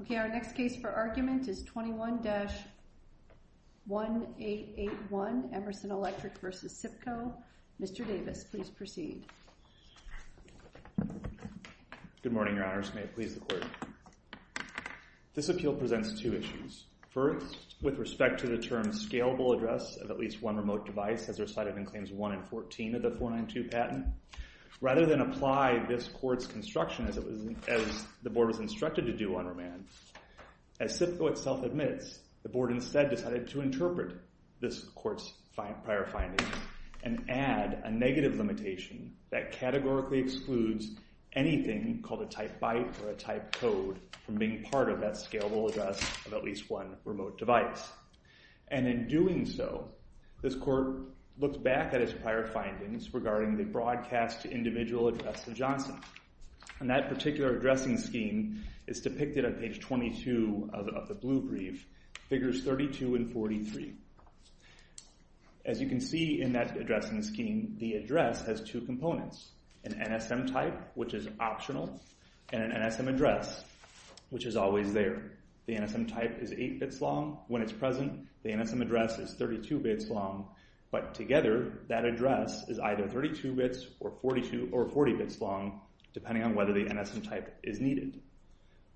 Okay, our next case for argument is 21-1881 Emerson Electric v. SIPCO. Mr. Davis, please proceed. Good morning, Your Honors. May it please the Court. This appeal presents two issues. First, with respect to the term scalable address of at least one remote device, as recited in Claims 1 and 14 of the 492 patent, rather than apply this Court's construction as the Board was instructed to do on remand, as SIPCO itself admits, the Board instead decided to interpret this Court's prior findings and add a negative limitation that categorically excludes anything called a type byte or a type code from being part of that scalable address of at least one remote device. And in doing so, this Court looked back at its prior findings regarding the broadcast individual address of Johnson. And that particular addressing scheme is depicted on page 22 of the blue brief, figures 32 and 43. As you can see in that addressing scheme, the address has two components, an NSM type, which is optional, and an NSM address, which is always there. The NSM type is 8 bits long. When it's present, the NSM address is 32 bits long. But together, that address is either 32 bits or 40 bits long, depending on whether the NSM type is needed.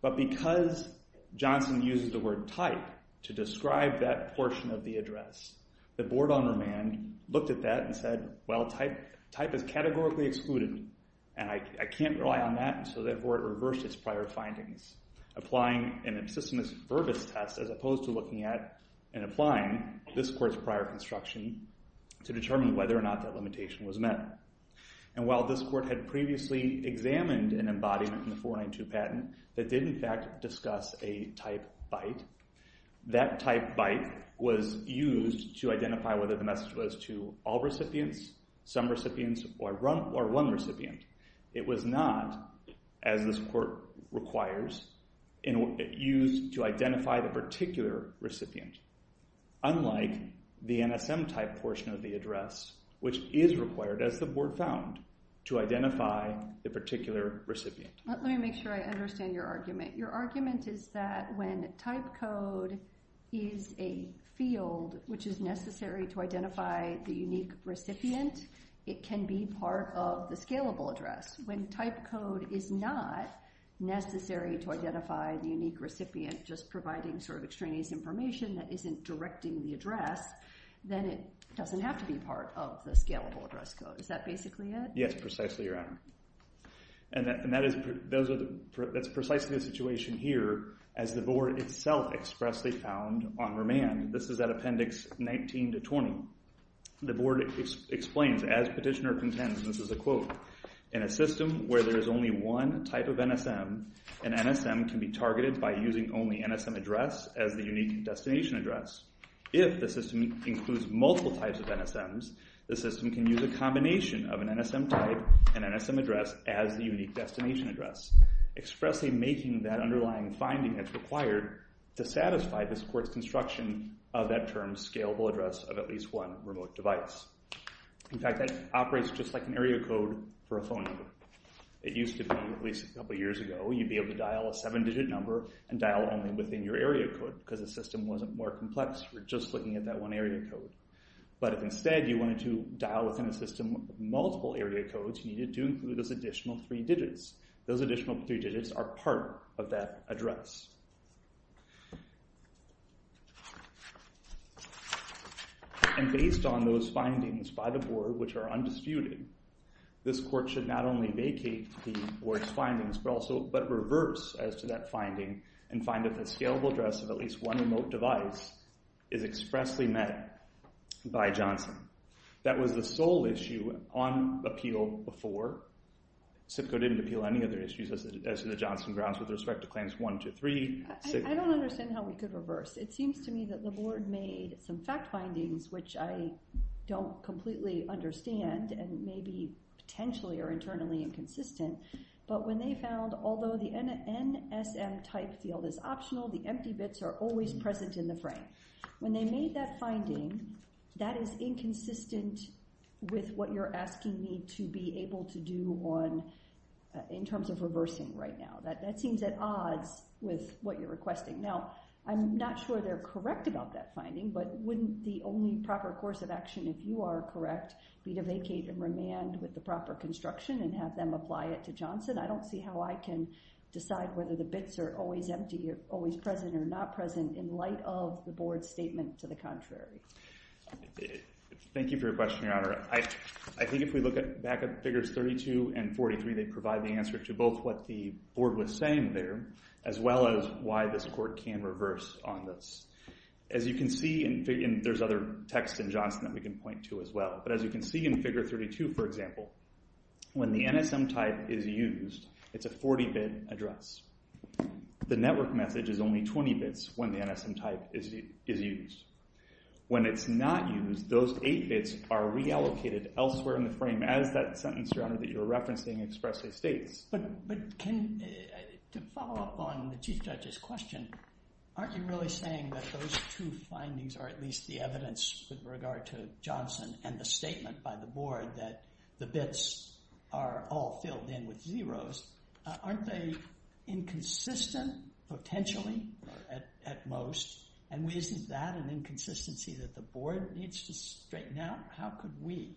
But because Johnson uses the word type to describe that portion of the address, the Board on remand looked at that and said, well, type is categorically excluded, and I can't rely on that. And so that Court reversed its prior findings, applying an applying this Court's prior construction to determine whether or not that limitation was met. And while this Court had previously examined an embodiment from the 492 patent that did, in fact, discuss a type byte, that type byte was used to identify whether the message was to all recipients, some recipients, or one recipient. It was not, as this Court requires, used to identify the particular recipient, unlike the NSM type portion of the address, which is required, as the Board found, to identify the particular recipient. Let me make sure I understand your argument. Your argument is that when type code is a field which is necessary to identify the unique recipient, it can be part of the scalable address. When type code is not necessary to identify the extraneous information that isn't directing the address, then it doesn't have to be part of the scalable address code. Is that basically it? Yes, precisely, Your Honor. And that is precisely the situation here, as the Board itself expressly found on remand. This is at Appendix 19 to 20. The Board explains, as petitioner contends, and this is a quote, in a system where there is only one type of NSM, an NSM can be targeted by using only NSM address as the unique destination address. If the system includes multiple types of NSMs, the system can use a combination of an NSM type and NSM address as the unique destination address, expressly making that underlying finding that's required to satisfy this Court's construction of that term, scalable address of at least one remote device. In fact, that operates just like an area code for a phone number. It used to be, at least a couple of years ago, you'd be able to dial a seven-digit number and dial only within your area code, because the system wasn't more complex for just looking at that one area code. But if instead you wanted to dial within a system with multiple area codes, you needed to include those additional three digits. Those additional three digits are part of that address. And based on those findings by the Board, which are undisputed, this Court should not only vacate the Board's findings, but reverse as to that finding and find that the scalable address of at least one remote device is expressly met by Johnson. That was the sole issue on appeal before. SIPCO didn't appeal any other issues as to the Johnson grounds with respect to Claims 1, 2, 3, 6, 7, 8. I don't understand how we could reverse. It seems to me that the Board made some fact findings, which I don't completely understand and maybe potentially are internally inconsistent, but when they found, although the NSM type field is optional, the empty bits are always present in the frame. When they made that finding, that is inconsistent with what you're asking me to be able to do on, in terms of reversing right now. That seems at odds with what you're requesting. Now, I'm not sure they're correct about that finding, but wouldn't the only proper course of action, if you are correct, be to vacate and remand with the application and have them apply it to Johnson? I don't see how I can decide whether the bits are always empty or always present or not present in light of the Board's statement to the contrary. Thank you for your question, Your Honor. I think if we look back at Figures 32 and 43, they provide the answer to both what the Board was saying there, as well as why this Court can reverse on this. As you can see, and there's other text in Johnson that we can point to as well, but as you can see in Figure 32, for example, when the NSM type is used, it's a 40-bit address. The network message is only 20 bits when the NSM type is used. When it's not used, those eight bits are reallocated elsewhere in the frame, as that sentence, Your Honor, that you're referencing expressly states. But to follow up on the Chief Judge's question, aren't you really saying that those two findings are at least the evidence with regard to Johnson and the statement by the Board that the bits are all filled in with zeros? Aren't they inconsistent, potentially, at most? And isn't that an inconsistency that the Board needs to straighten out? How could we?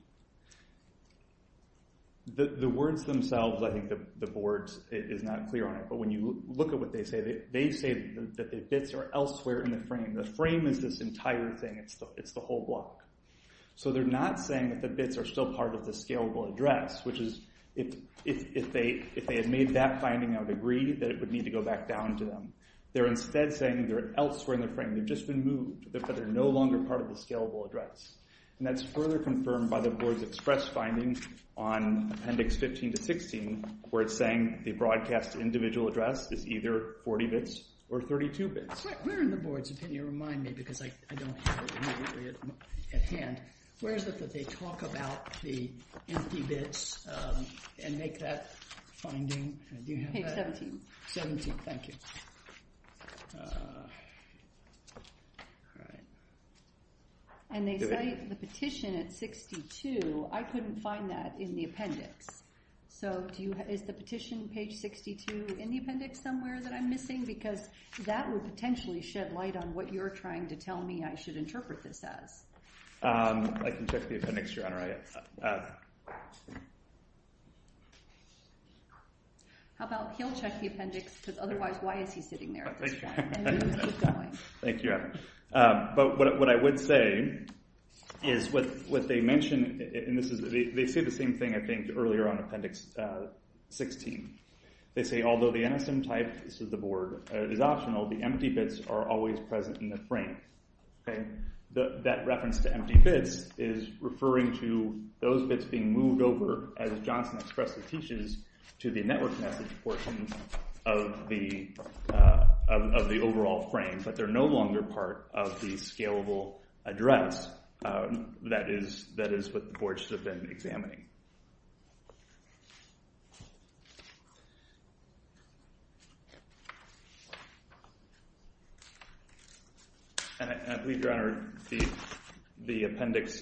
The words themselves, I think the Board is not clear on it, but when you look at what they say, they say that the bits are elsewhere in the frame. The frame is this entire thing. It's the whole block. So they're not saying that the bits are still part of the scalable address, which is, if they had made that finding, I would agree that it would need to go back down to them. They're instead saying they're elsewhere in the frame. They've just been moved, but they're no longer part of the scalable address. And that's further confirmed by the Board's express finding on Appendix 15 to 16, where it's saying the broadcast individual address is either 40 bits or 32 bits. Where in the Board's opinion, remind me, because I don't have it immediately at hand, where is it that they talk about the empty bits and make that finding? Do you have that? Page 17. 17, thank you. All right. And they say the petition at 62, I couldn't find that in the appendix. So is the petition, page 62, in the appendix somewhere that I'm missing? Because that would potentially shed light on what you're trying to tell me I should interpret this as. I can check the appendix, Your Honor. All right. How about he'll check the appendix, because otherwise, why is he sitting there at this point? Thank you. But what I would say is what they mentioned, and they say the same thing, I think, earlier on Appendix 16. They say although the NSM type, this is the Board, is optional, the empty bits are always present in the frame. That reference to empty bits is referring to those bits being moved over, as Johnson expressly teaches, to the network message portion of the overall frame. But they're no longer part of the scalable address. That is what the Board should have been examining. And I believe, Your Honor, the appendix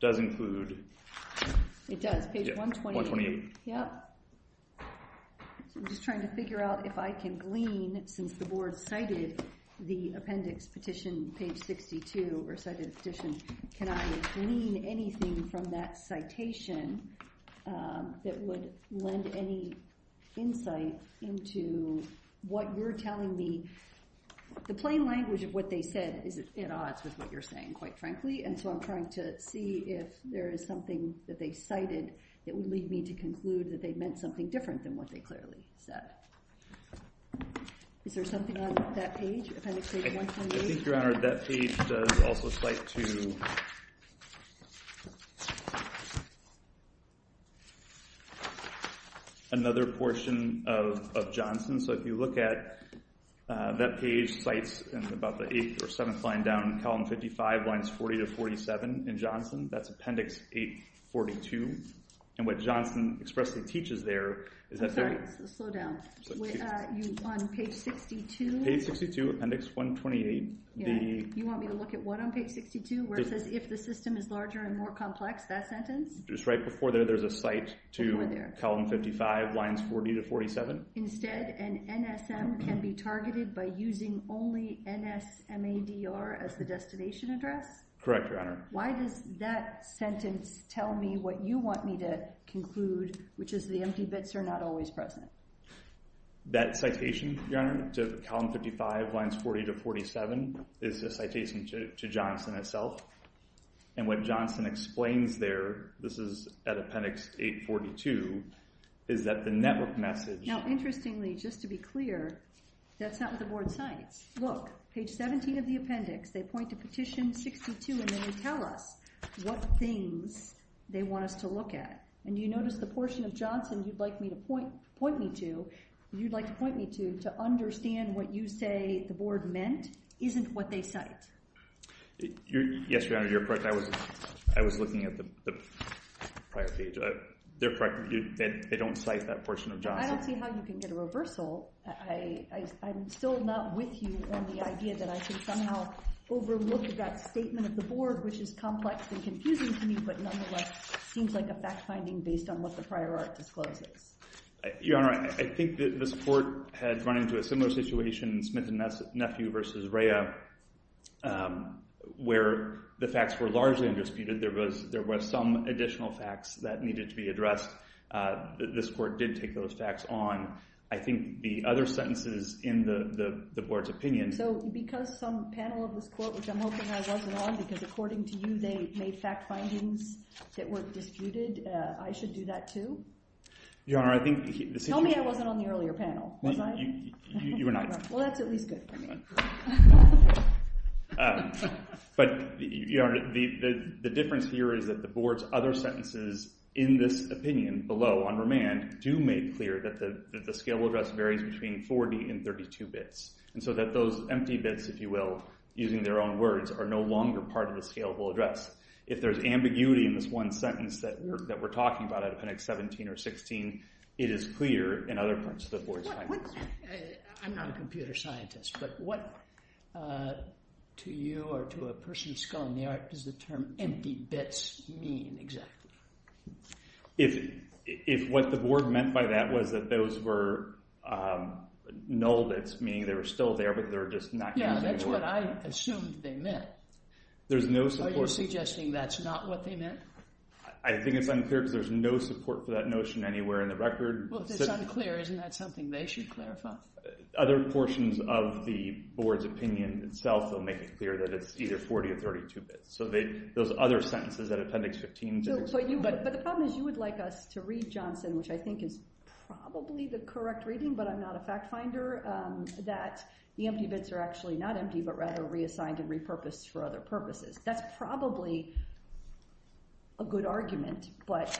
does include. It does. Page 128. Yep. I'm just trying to figure out if I can glean, since the Board cited the appendix petition, page 62, or cited the appendix, if I can glean anything from that citation that would lend any insight into what you're telling me. The plain language of what they said is at odds with what you're saying, quite frankly, and so I'm trying to see if there is something that they cited that would lead me to conclude that they meant something different than what they clearly said. Is there something on that page? Another portion of Johnson. So if you look at that page, it cites about the eighth or seventh line down, column 55, lines 40 to 47 in Johnson. That's appendix 842. And what Johnson expressly teaches there is that... I'm sorry, slow down. On page 62? Page 62, appendix 128. You want me to look at what on page 62, where it says if the system is larger and more complex, that sentence? Just right before there, there's a cite to column 55, lines 40 to 47. Instead, an NSM can be targeted by using only N-S-M-A-D-R as the destination address? Correct, Your Honor. Why does that sentence tell me what you want me to conclude, which is the empty bits are not always present? That citation, Your Honor, to column 55, lines 40 to 47, is a citation to Johnson itself. And what Johnson explains there, this is at appendix 842, is that the network message... Now, interestingly, just to be clear, that's not what the board cites. Look, page 17 of the appendix, they point to petition 62, and then they tell us what things they want us to look at. And you notice the portion of Johnson you'd like me to point me to, you'd like to point me to, to understand what you say the board meant isn't what they cite. Yes, Your Honor, you're correct. I was looking at the prior page. They're correct. They don't cite that portion of Johnson. I don't see how you can get a reversal. I'm still not with you on the idea that I could somehow overlook that statement of the board, which is complex and confusing to me, but nonetheless seems like a fact-finding based on what the prior art discloses. Your Honor, I think that the support had run into a similar situation in Smith and Nephew versus Rhea, where the facts were largely undisputed. There was some additional facts that needed to be addressed. This court did take those facts on. I think the other sentences in the board's opinion... So, because some panel of this court, which I'm hoping I wasn't on, because according to you they made fact findings that were disputed, I should do that too? Your Honor, I think... Tell me I wasn't on the earlier panel. You were not. Well, that's at least good for me. But, Your Honor, the difference here is that the board's other sentences in this opinion below on remand do make clear that the scalable address varies between 40 and 32 bits, and so that those empty bits, if you will, using their own words, are no longer part of the scalable address. If there's ambiguity in this one sentence that we're talking about out of appendix 17 or 16, it is clear in other parts of the board's findings. I'm not a computer scientist, but what, to you or to a person skulling the art, does the term empty bits mean exactly? If what the board meant by that was that those were null bits, meaning they were still there, but they're just not... Yeah, that's what I assumed they meant. There's no support... Are you suggesting that's not what they meant? I think it's unclear because there's no support for that notion anywhere in the record. Well, if it's unclear, isn't that something they should clarify? Other portions of the board's opinion itself will make it clear that it's either 40 or 32 bits. So those other sentences at appendix 15... But the problem is you would like us to read, Johnson, which I think is probably the correct reading, but I'm not a fact finder, that the empty bits are actually not empty, but rather reassigned and repurposed for other purposes. That's probably a good argument, but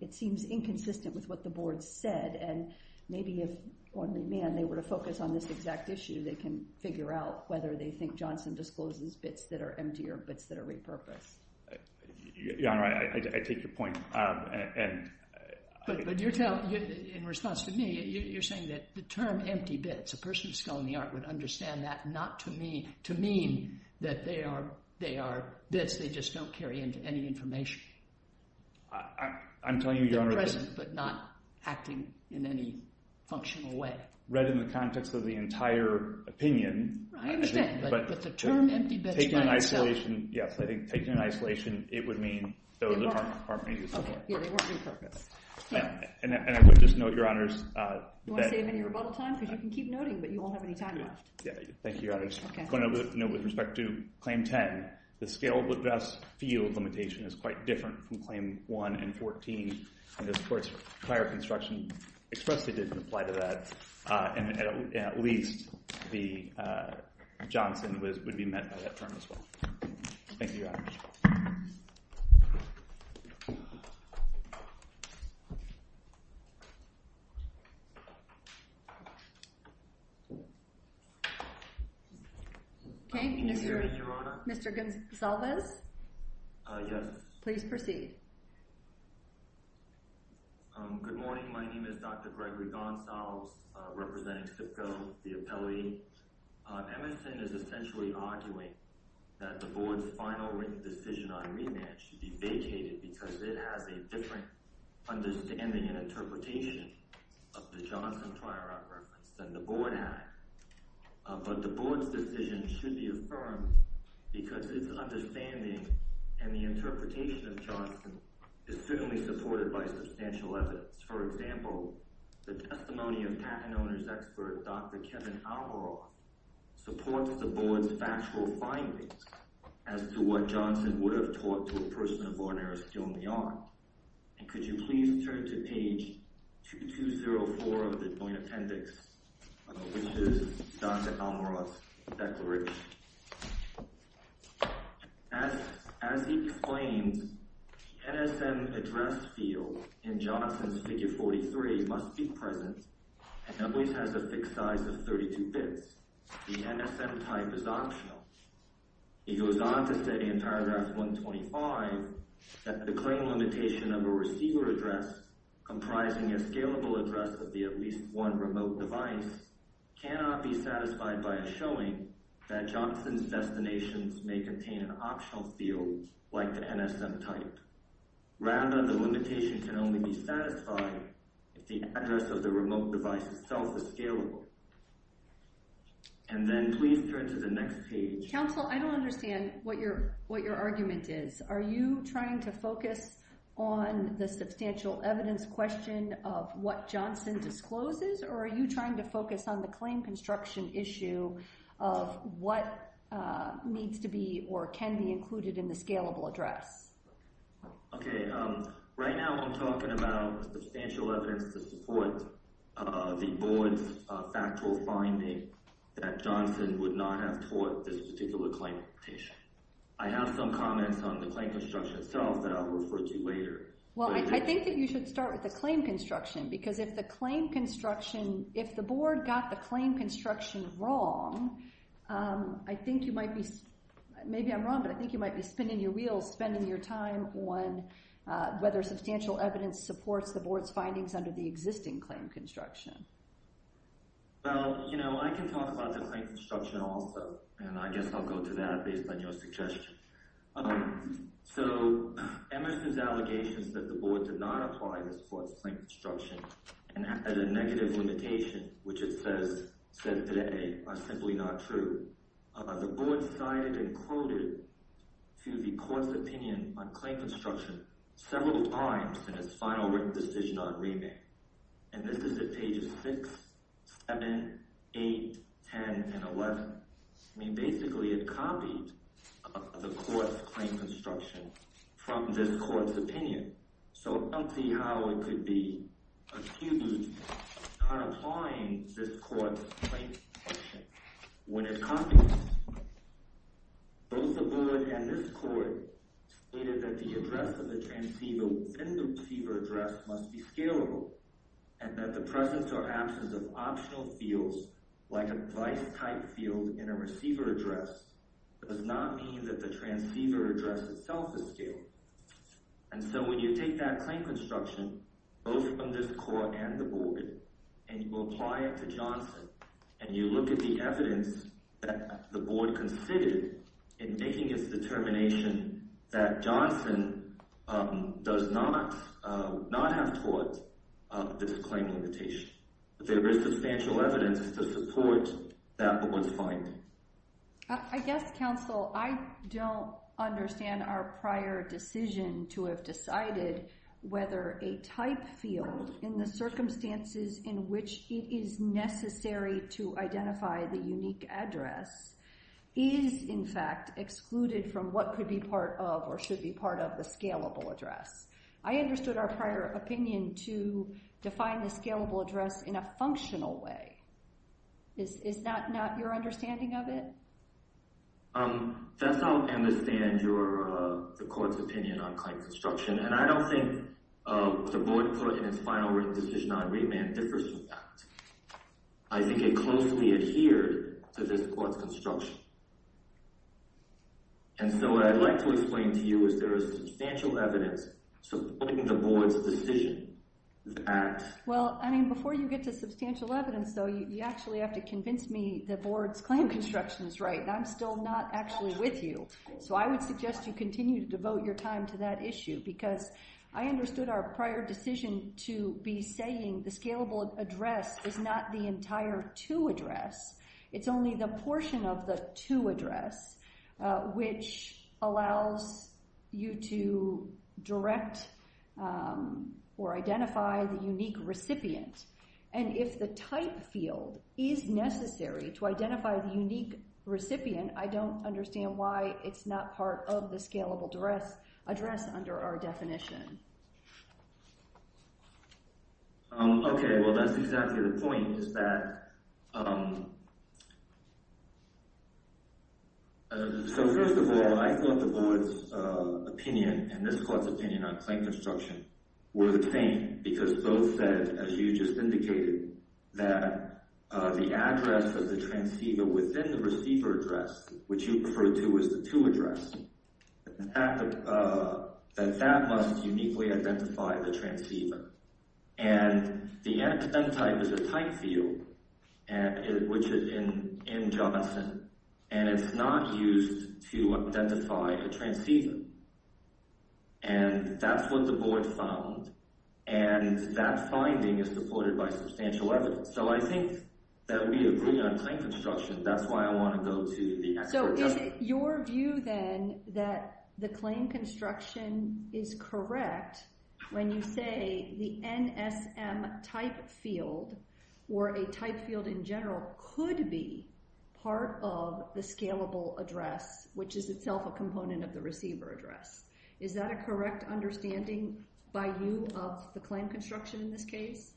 it seems inconsistent with what the board said, and maybe if only, man, they were to focus on this exact issue, they can figure out whether they think Johnson discloses bits that are empty or bits that are repurposed. Yeah, I take your point, and... But you're telling, in response to me, you're saying that the term empty bits, a person skulling the art would not to mean that they are bits they just don't carry into any information. I'm telling you, Your Honor... They're present, but not acting in any functional way. Read in the context of the entire opinion... I understand, but the term empty bits... Taking an isolation, yes, I think taking an isolation, it would mean those that aren't repurposed. Okay, yeah, they weren't repurposed. And I would just note, Your Honors... You wanna save me any rebuttal time? Because you can keep noting, but you won't have any time left. Yeah, thank you, Your Honors. I just wanna note with respect to Claim 10, the scalable address field limitation is quite different from Claim 1 and 14, and the supports for prior construction expressly didn't apply to that, and at least the Johnson would be met by that term as well. Thank you, Your Honors. Okay, Mr. Goncalves? Yes. Please proceed. Good morning, my name is Dr. Gregory Gonsalves, representing SIPCO, the appellee. Emerson is essentially arguing that the Board's final written decision on remand should be vacated because it has a different understanding and interpretation of the Johnson prior up reference than the Board has, but the Board's decision should be affirmed because its understanding and the interpretation of Johnson is certainly supported by substantial evidence. For example, the testimony of patent owner's expert Dr. Kevin Almaroth supports the Board's factual findings as to what Johnson would have taught to a person of ordinary skill in the art, and could you please turn to page 2204 of the Joint Appendix, which is Dr. Almaroth's declaration. As he explains, the NSM address field in Johnson's figure 43 must be present and always has a fixed size of 32 bits. The NSM type is optional. He goes on to say in paragraph 125 that the claim limitation of a receiver address comprising a scalable address of the at least one remote device cannot be satisfied by a showing that Johnson's destinations may contain an optional field like the NSM type. Rather, the limitation can only be satisfied if the address of the remote device itself is scalable. And then please turn to the next page. Counsel, I don't understand what your argument is. Are you trying to focus on the substantial evidence question of what Johnson discloses, or are you trying to focus on the claim construction issue of what needs to be or can be included in the scalable address? Okay, right now I'm talking about substantial evidence to support the Board's factual finding that Johnson would not have taught this particular claim limitation. I have some comments on the claim construction itself that I'll refer to later. Well, I think that you should start with claim construction, because if the claim construction, if the Board got the claim construction wrong, I think you might be, maybe I'm wrong, but I think you might be spinning your wheels, spending your time on whether substantial evidence supports the Board's findings under the existing claim construction. Well, you know, I can talk about the claim construction also, and I guess I'll go to that based on your suggestion. So, Emerson's allegations that the Board did not apply this for its claim construction and had a negative limitation, which it says, said today, are simply not true. The Board cited and quoted to the Court's opinion on claim construction several times in its final written decision on remand, and this is at pages 6, 7, 8, 10, and 11. I mean, basically, it copied the Court's claim construction from this Court's opinion. So, I'll see how it could be accused of not applying this Court's claim construction when it copied it. Both the Board and this Court stated that the address of the transceiver and the receiver address must be scalable, and that the presence or absence of a device-type field in a receiver address does not mean that the transceiver address itself is scalable. And so, when you take that claim construction, both from this Court and the Board, and you apply it to Johnson, and you look at the evidence that the Board considered in making its determination that Johnson does not, not have taught this claim limitation, there is substantial evidence to support that one's finding. I guess, counsel, I don't understand our prior decision to have decided whether a type field in the circumstances in which it is necessary to identify the unique address is, in fact, excluded from what could be part of or should be part of the scalable address. I understood our prior opinion to define the scalable address in a functional way. Is that not your understanding of it? That's how I understand your, the Court's opinion on claim construction, and I don't think the Board put in its final written decision on remand differs from that. I think it closely adhered to this Court's construction. And so, what I'd like to explain to you is there is substantial evidence supporting the Board's decision that... Well, I mean, before you get to substantial evidence, though, you actually have to convince me the Board's claim construction is right, and I'm still not actually with you. So, I would suggest you continue to devote your time to that issue, because I understood our prior decision to be saying the scalable address is not the entire two address. It's only the portion of the two address, which allows you to direct or identify the unique recipient. And if the type field is necessary to identify the unique recipient, I don't understand why it's not part of the scalable address under our definition. Okay, well, that's exactly the point, is that So, first of all, I thought the Board's opinion, and this Court's opinion on claim construction, were the same, because both said, as you just indicated, that the address of the transceiver within the receiver address, which you referred to as the two address, that that must uniquely identify the transceiver. And the antecedent type is a type field, which is in Johnson, and it's not used to identify a transceiver. And that's what the Board found, and that finding is supported by substantial evidence. So, I think that we agree on claim construction. That's why I want to go to the expert. So, is it your view, then, that the claim construction is correct when you say the NSM type field, or a type field in general, could be part of the scalable address, which is itself a component of the receiver address? Is that a correct understanding by you of the claim construction in this case?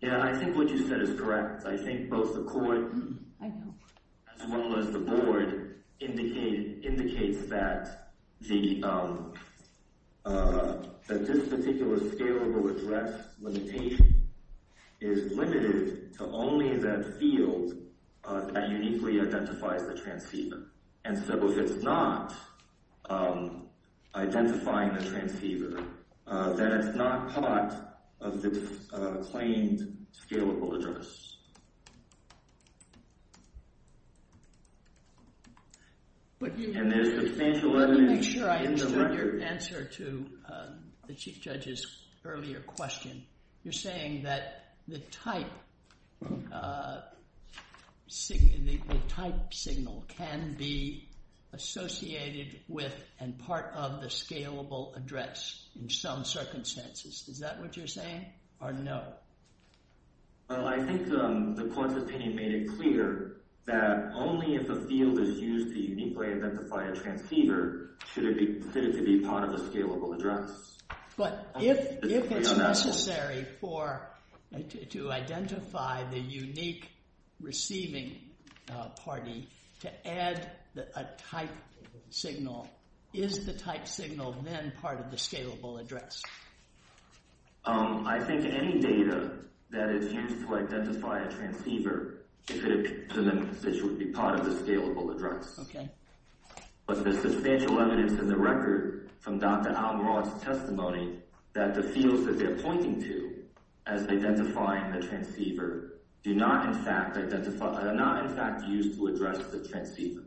Yeah, I think what you said is correct. I think both the Court, as well as the Board, indicate that this particular scalable address limitation is limited to only that field that uniquely identifies the transceiver. And so, if it's not identifying the transceiver, then it's not part of the claimed scalable address. Let me make sure I understood your answer to the Chief Judge's earlier question. You're saying that the type signal can be associated with and part of the scalable address in some circumstances. Is that what you're saying, or no? Well, I think the Court's opinion made it clear that only if a field is used to uniquely identify a transceiver should it be considered to be part of a scalable address. But if it's necessary to identify the unique receiving party to add a type signal, is the type signal then part of the scalable address? I think any data that is used to identify a transceiver should be considered to be part of the scalable address. But there's substantial evidence in the record from Dr. Al-Murad's testimony that the fields that they're pointing to as identifying the transceiver are not in fact used to address the transceiver.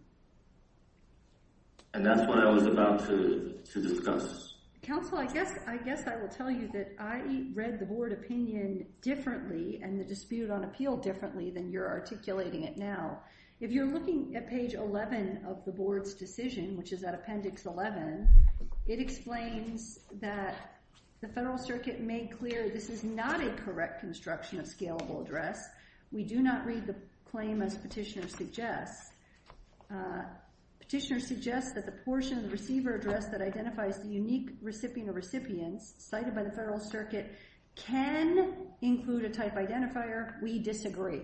And that's what I was about to discuss. Counsel, I guess I will tell you that I read the Board opinion differently and the dispute on appeal differently than you're articulating it now. If you're looking at page 11 of the Board's decision, which is at appendix 11, it explains that the Federal Circuit made clear this is not a correct construction of scalable address. We do not read the claim as Petitioner suggests. Petitioner suggests that the portion of transceiver address that identifies the unique recipient or recipients cited by the Federal Circuit can include a type identifier. We disagree.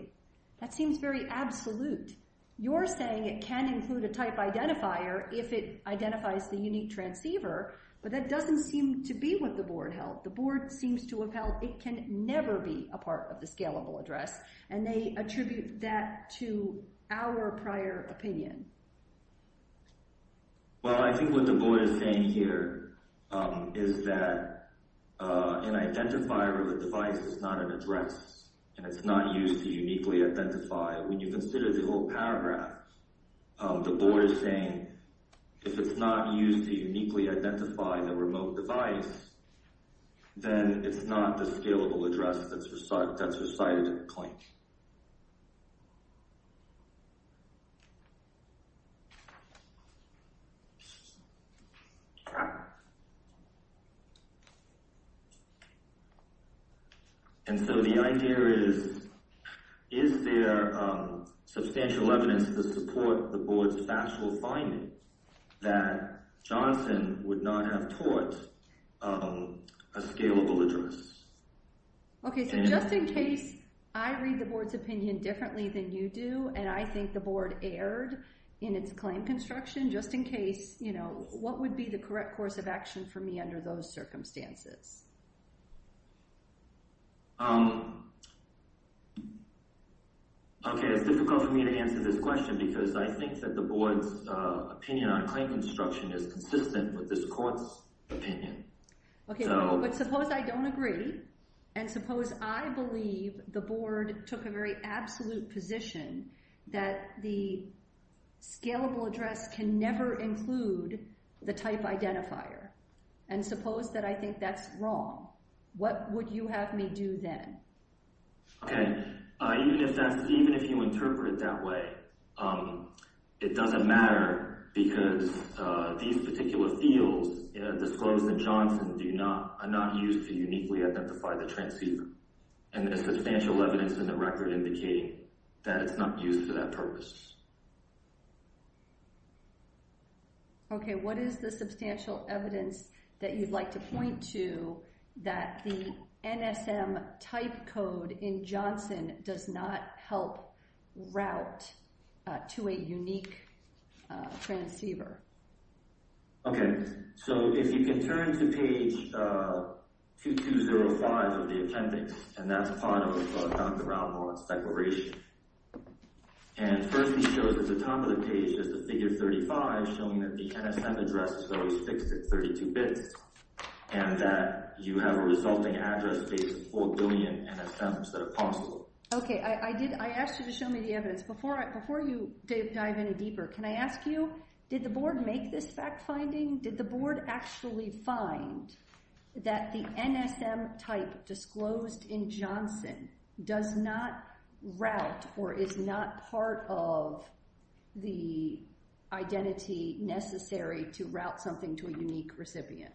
That seems very absolute. You're saying it can include a type identifier if it identifies the unique transceiver, but that doesn't seem to be what the Board held. The Board seems to have held it can never be a part of the scalable address. And they attribute that to our prior opinion. Well, I think what the Board is saying here is that an identifier of a device is not an address and it's not used to uniquely identify. When you consider the whole paragraph, the Board is saying if it's not used to uniquely identify the remote device, then it's not the scalable address that's recited in the claim. And so the idea is, is there substantial evidence to support the Board's factual finding that Johnson would not have taught a scalable address? Okay, so just in case I read the Board's opinion differently than you do, and I think the Board erred in its claim construction, just in case, you know, what would be the correct course of action for me under those circumstances? Okay, it's difficult for me to answer this question because I think that the Board's opinion on claim construction is consistent with this Court's opinion. Okay, but suppose I don't agree and suppose I believe the Board took a very absolute position that the scalable address can never include the type identifier and suppose that I think that's wrong. What would you have me do then? Okay, even if that's, even if you interpret it that way, it doesn't matter because these particular fields disclose that Johnson do not not use to uniquely identify the transceiver. And there's substantial evidence in the record indicating that it's not used for that purpose. Okay, what is the substantial evidence that you'd like to point to that the NSM type code in Johnson does not help route to a unique transceiver? Okay, so if you can turn to page 2205 of the appendix, and that's part of Dr. Ralmore's declaration, and first he shows at the top of the page is the figure 35 showing that the NSM address is always fixed at 32 bits and that you have a resulting address space of four billion NSMs that are possible. Okay, I did, I asked you to show me the transceiver. Can I ask you, did the board make this fact finding? Did the board actually find that the NSM type disclosed in Johnson does not route or is not part of the identity necessary to route something to a unique recipient?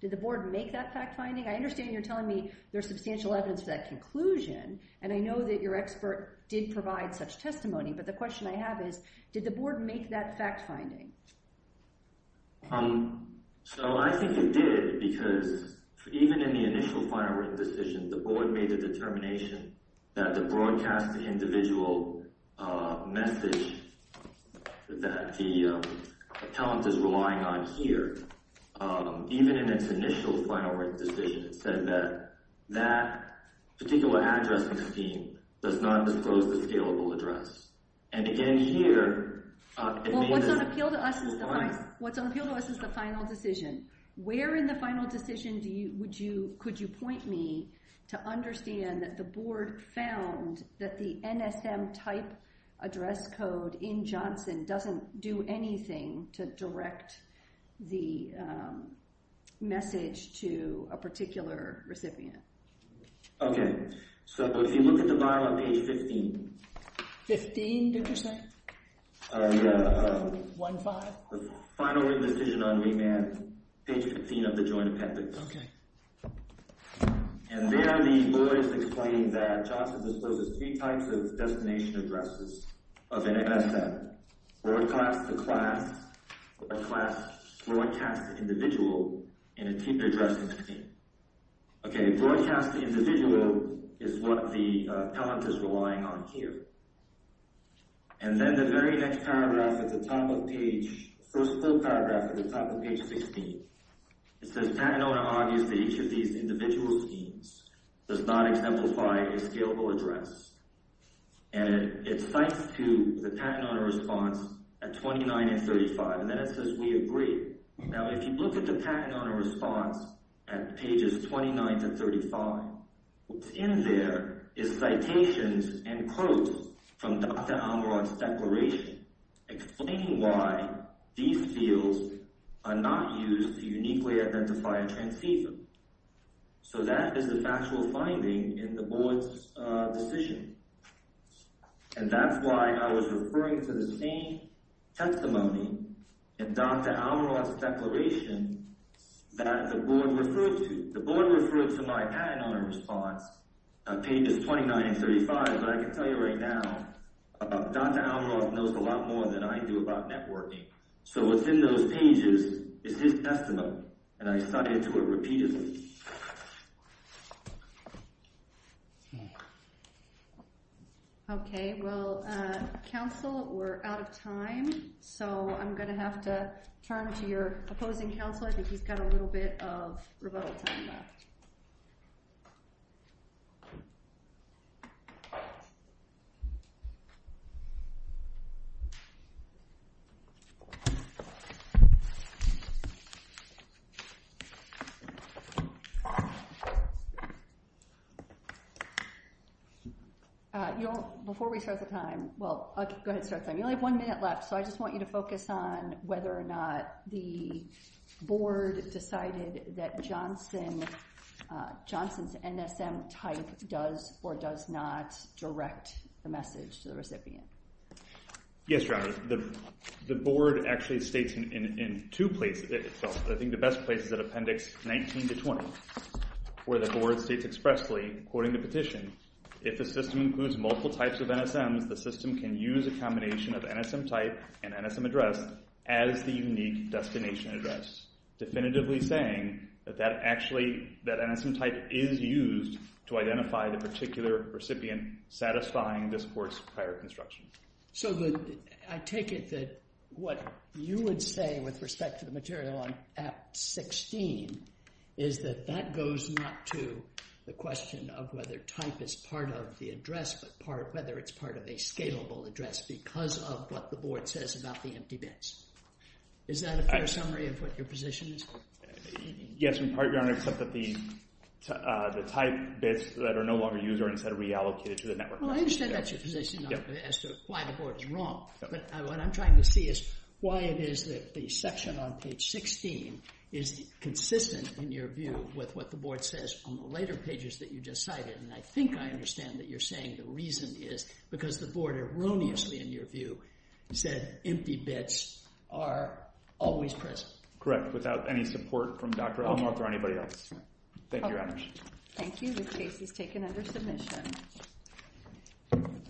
Did the board make that fact finding? I understand you're telling me there's substantial evidence for that conclusion and I know that your expert did provide such testimony, but the make that fact finding? So I think it did because even in the initial final written decision, the board made the determination that the broadcast individual message that the account is relying on here, even in its initial final written decision, it said that that particular addressing scheme does not disclose the scalable address. And again here, what's on appeal to us is the final decision. Where in the final decision would you, could you point me to understand that the board found that the NSM type address code in Johnson doesn't do anything to direct the message to a particular recipient? Okay, so if you look at the 15. 15 did you say? Yeah, the final written decision on remand, page 15 of the joint appendix. Okay. And there the board is explaining that Johnson discloses three types of designation addresses of an NSM. Broadcast, the class, broadcast, broadcast individual, and a key addressing scheme. Okay, broadcast individual is what the appellant is relying on here. And then the very next paragraph at the top of page, first full paragraph at the top of page 16, it says patent owner argues that each of these individual schemes does not exemplify a scalable address. And it cites to the patent owner response at 29 and 35. And then it says we agree. Now if you look at the patent owner response at pages 29 to 35, what's in there is citations and quotes from Dr. Amarant's declaration explaining why these fields are not used to uniquely identify a transceiver. So that is the factual finding in the board's decision. And that's why I was referring to the same testimony in Dr. Amarant's declaration that the board referred to. The board response at pages 29 and 35. But I can tell you right now, Dr. Amarant knows a lot more than I do about networking. So what's in those pages is his testimony. And I cited to it repeatedly. Okay, well, counsel, we're out of time. So I'm going to have to turn to your opposing counsel. I think he's got a little bit of time. You know, before we start the time, well, okay, go ahead and start the time. You only have one minute left. So I just want you to focus on whether or not the board decided that Johnson's NSM type does or does not direct the message to the recipient. Yes, Dr. Amarant, the board actually states in two places itself. I think the best place is at appendix 19 to 20, where the board states expressly, according to petition, if the system includes multiple types of NSMs, the system can use a combination of NSM type and NSM address as the unique destination address, definitively saying that NSM type is used to identify the particular recipient satisfying this court's prior construction. So I take it that what you would say with respect to the material on Act 16 is that that goes not to the question of whether type is part of the address, but whether it's part of a scalable address because of what the board says about the empty bits. Is that a fair summary of what your position is? Yes, in part, Your Honor, except that the type bits that are no longer used are instead reallocated to the network. Well, I understand that's your position as to why the board is wrong, but what I'm trying to see is why it is that the section on page 16 is consistent in your view with what the board says on the later pages that you just cited. And I think I understand that you're saying the reason is because the board erroneously, in your view, said empty bits are always present. Correct, without any support from Dr. Elmore or anybody else. Thank you, Your Honor. Thank you. The case is taken under submission.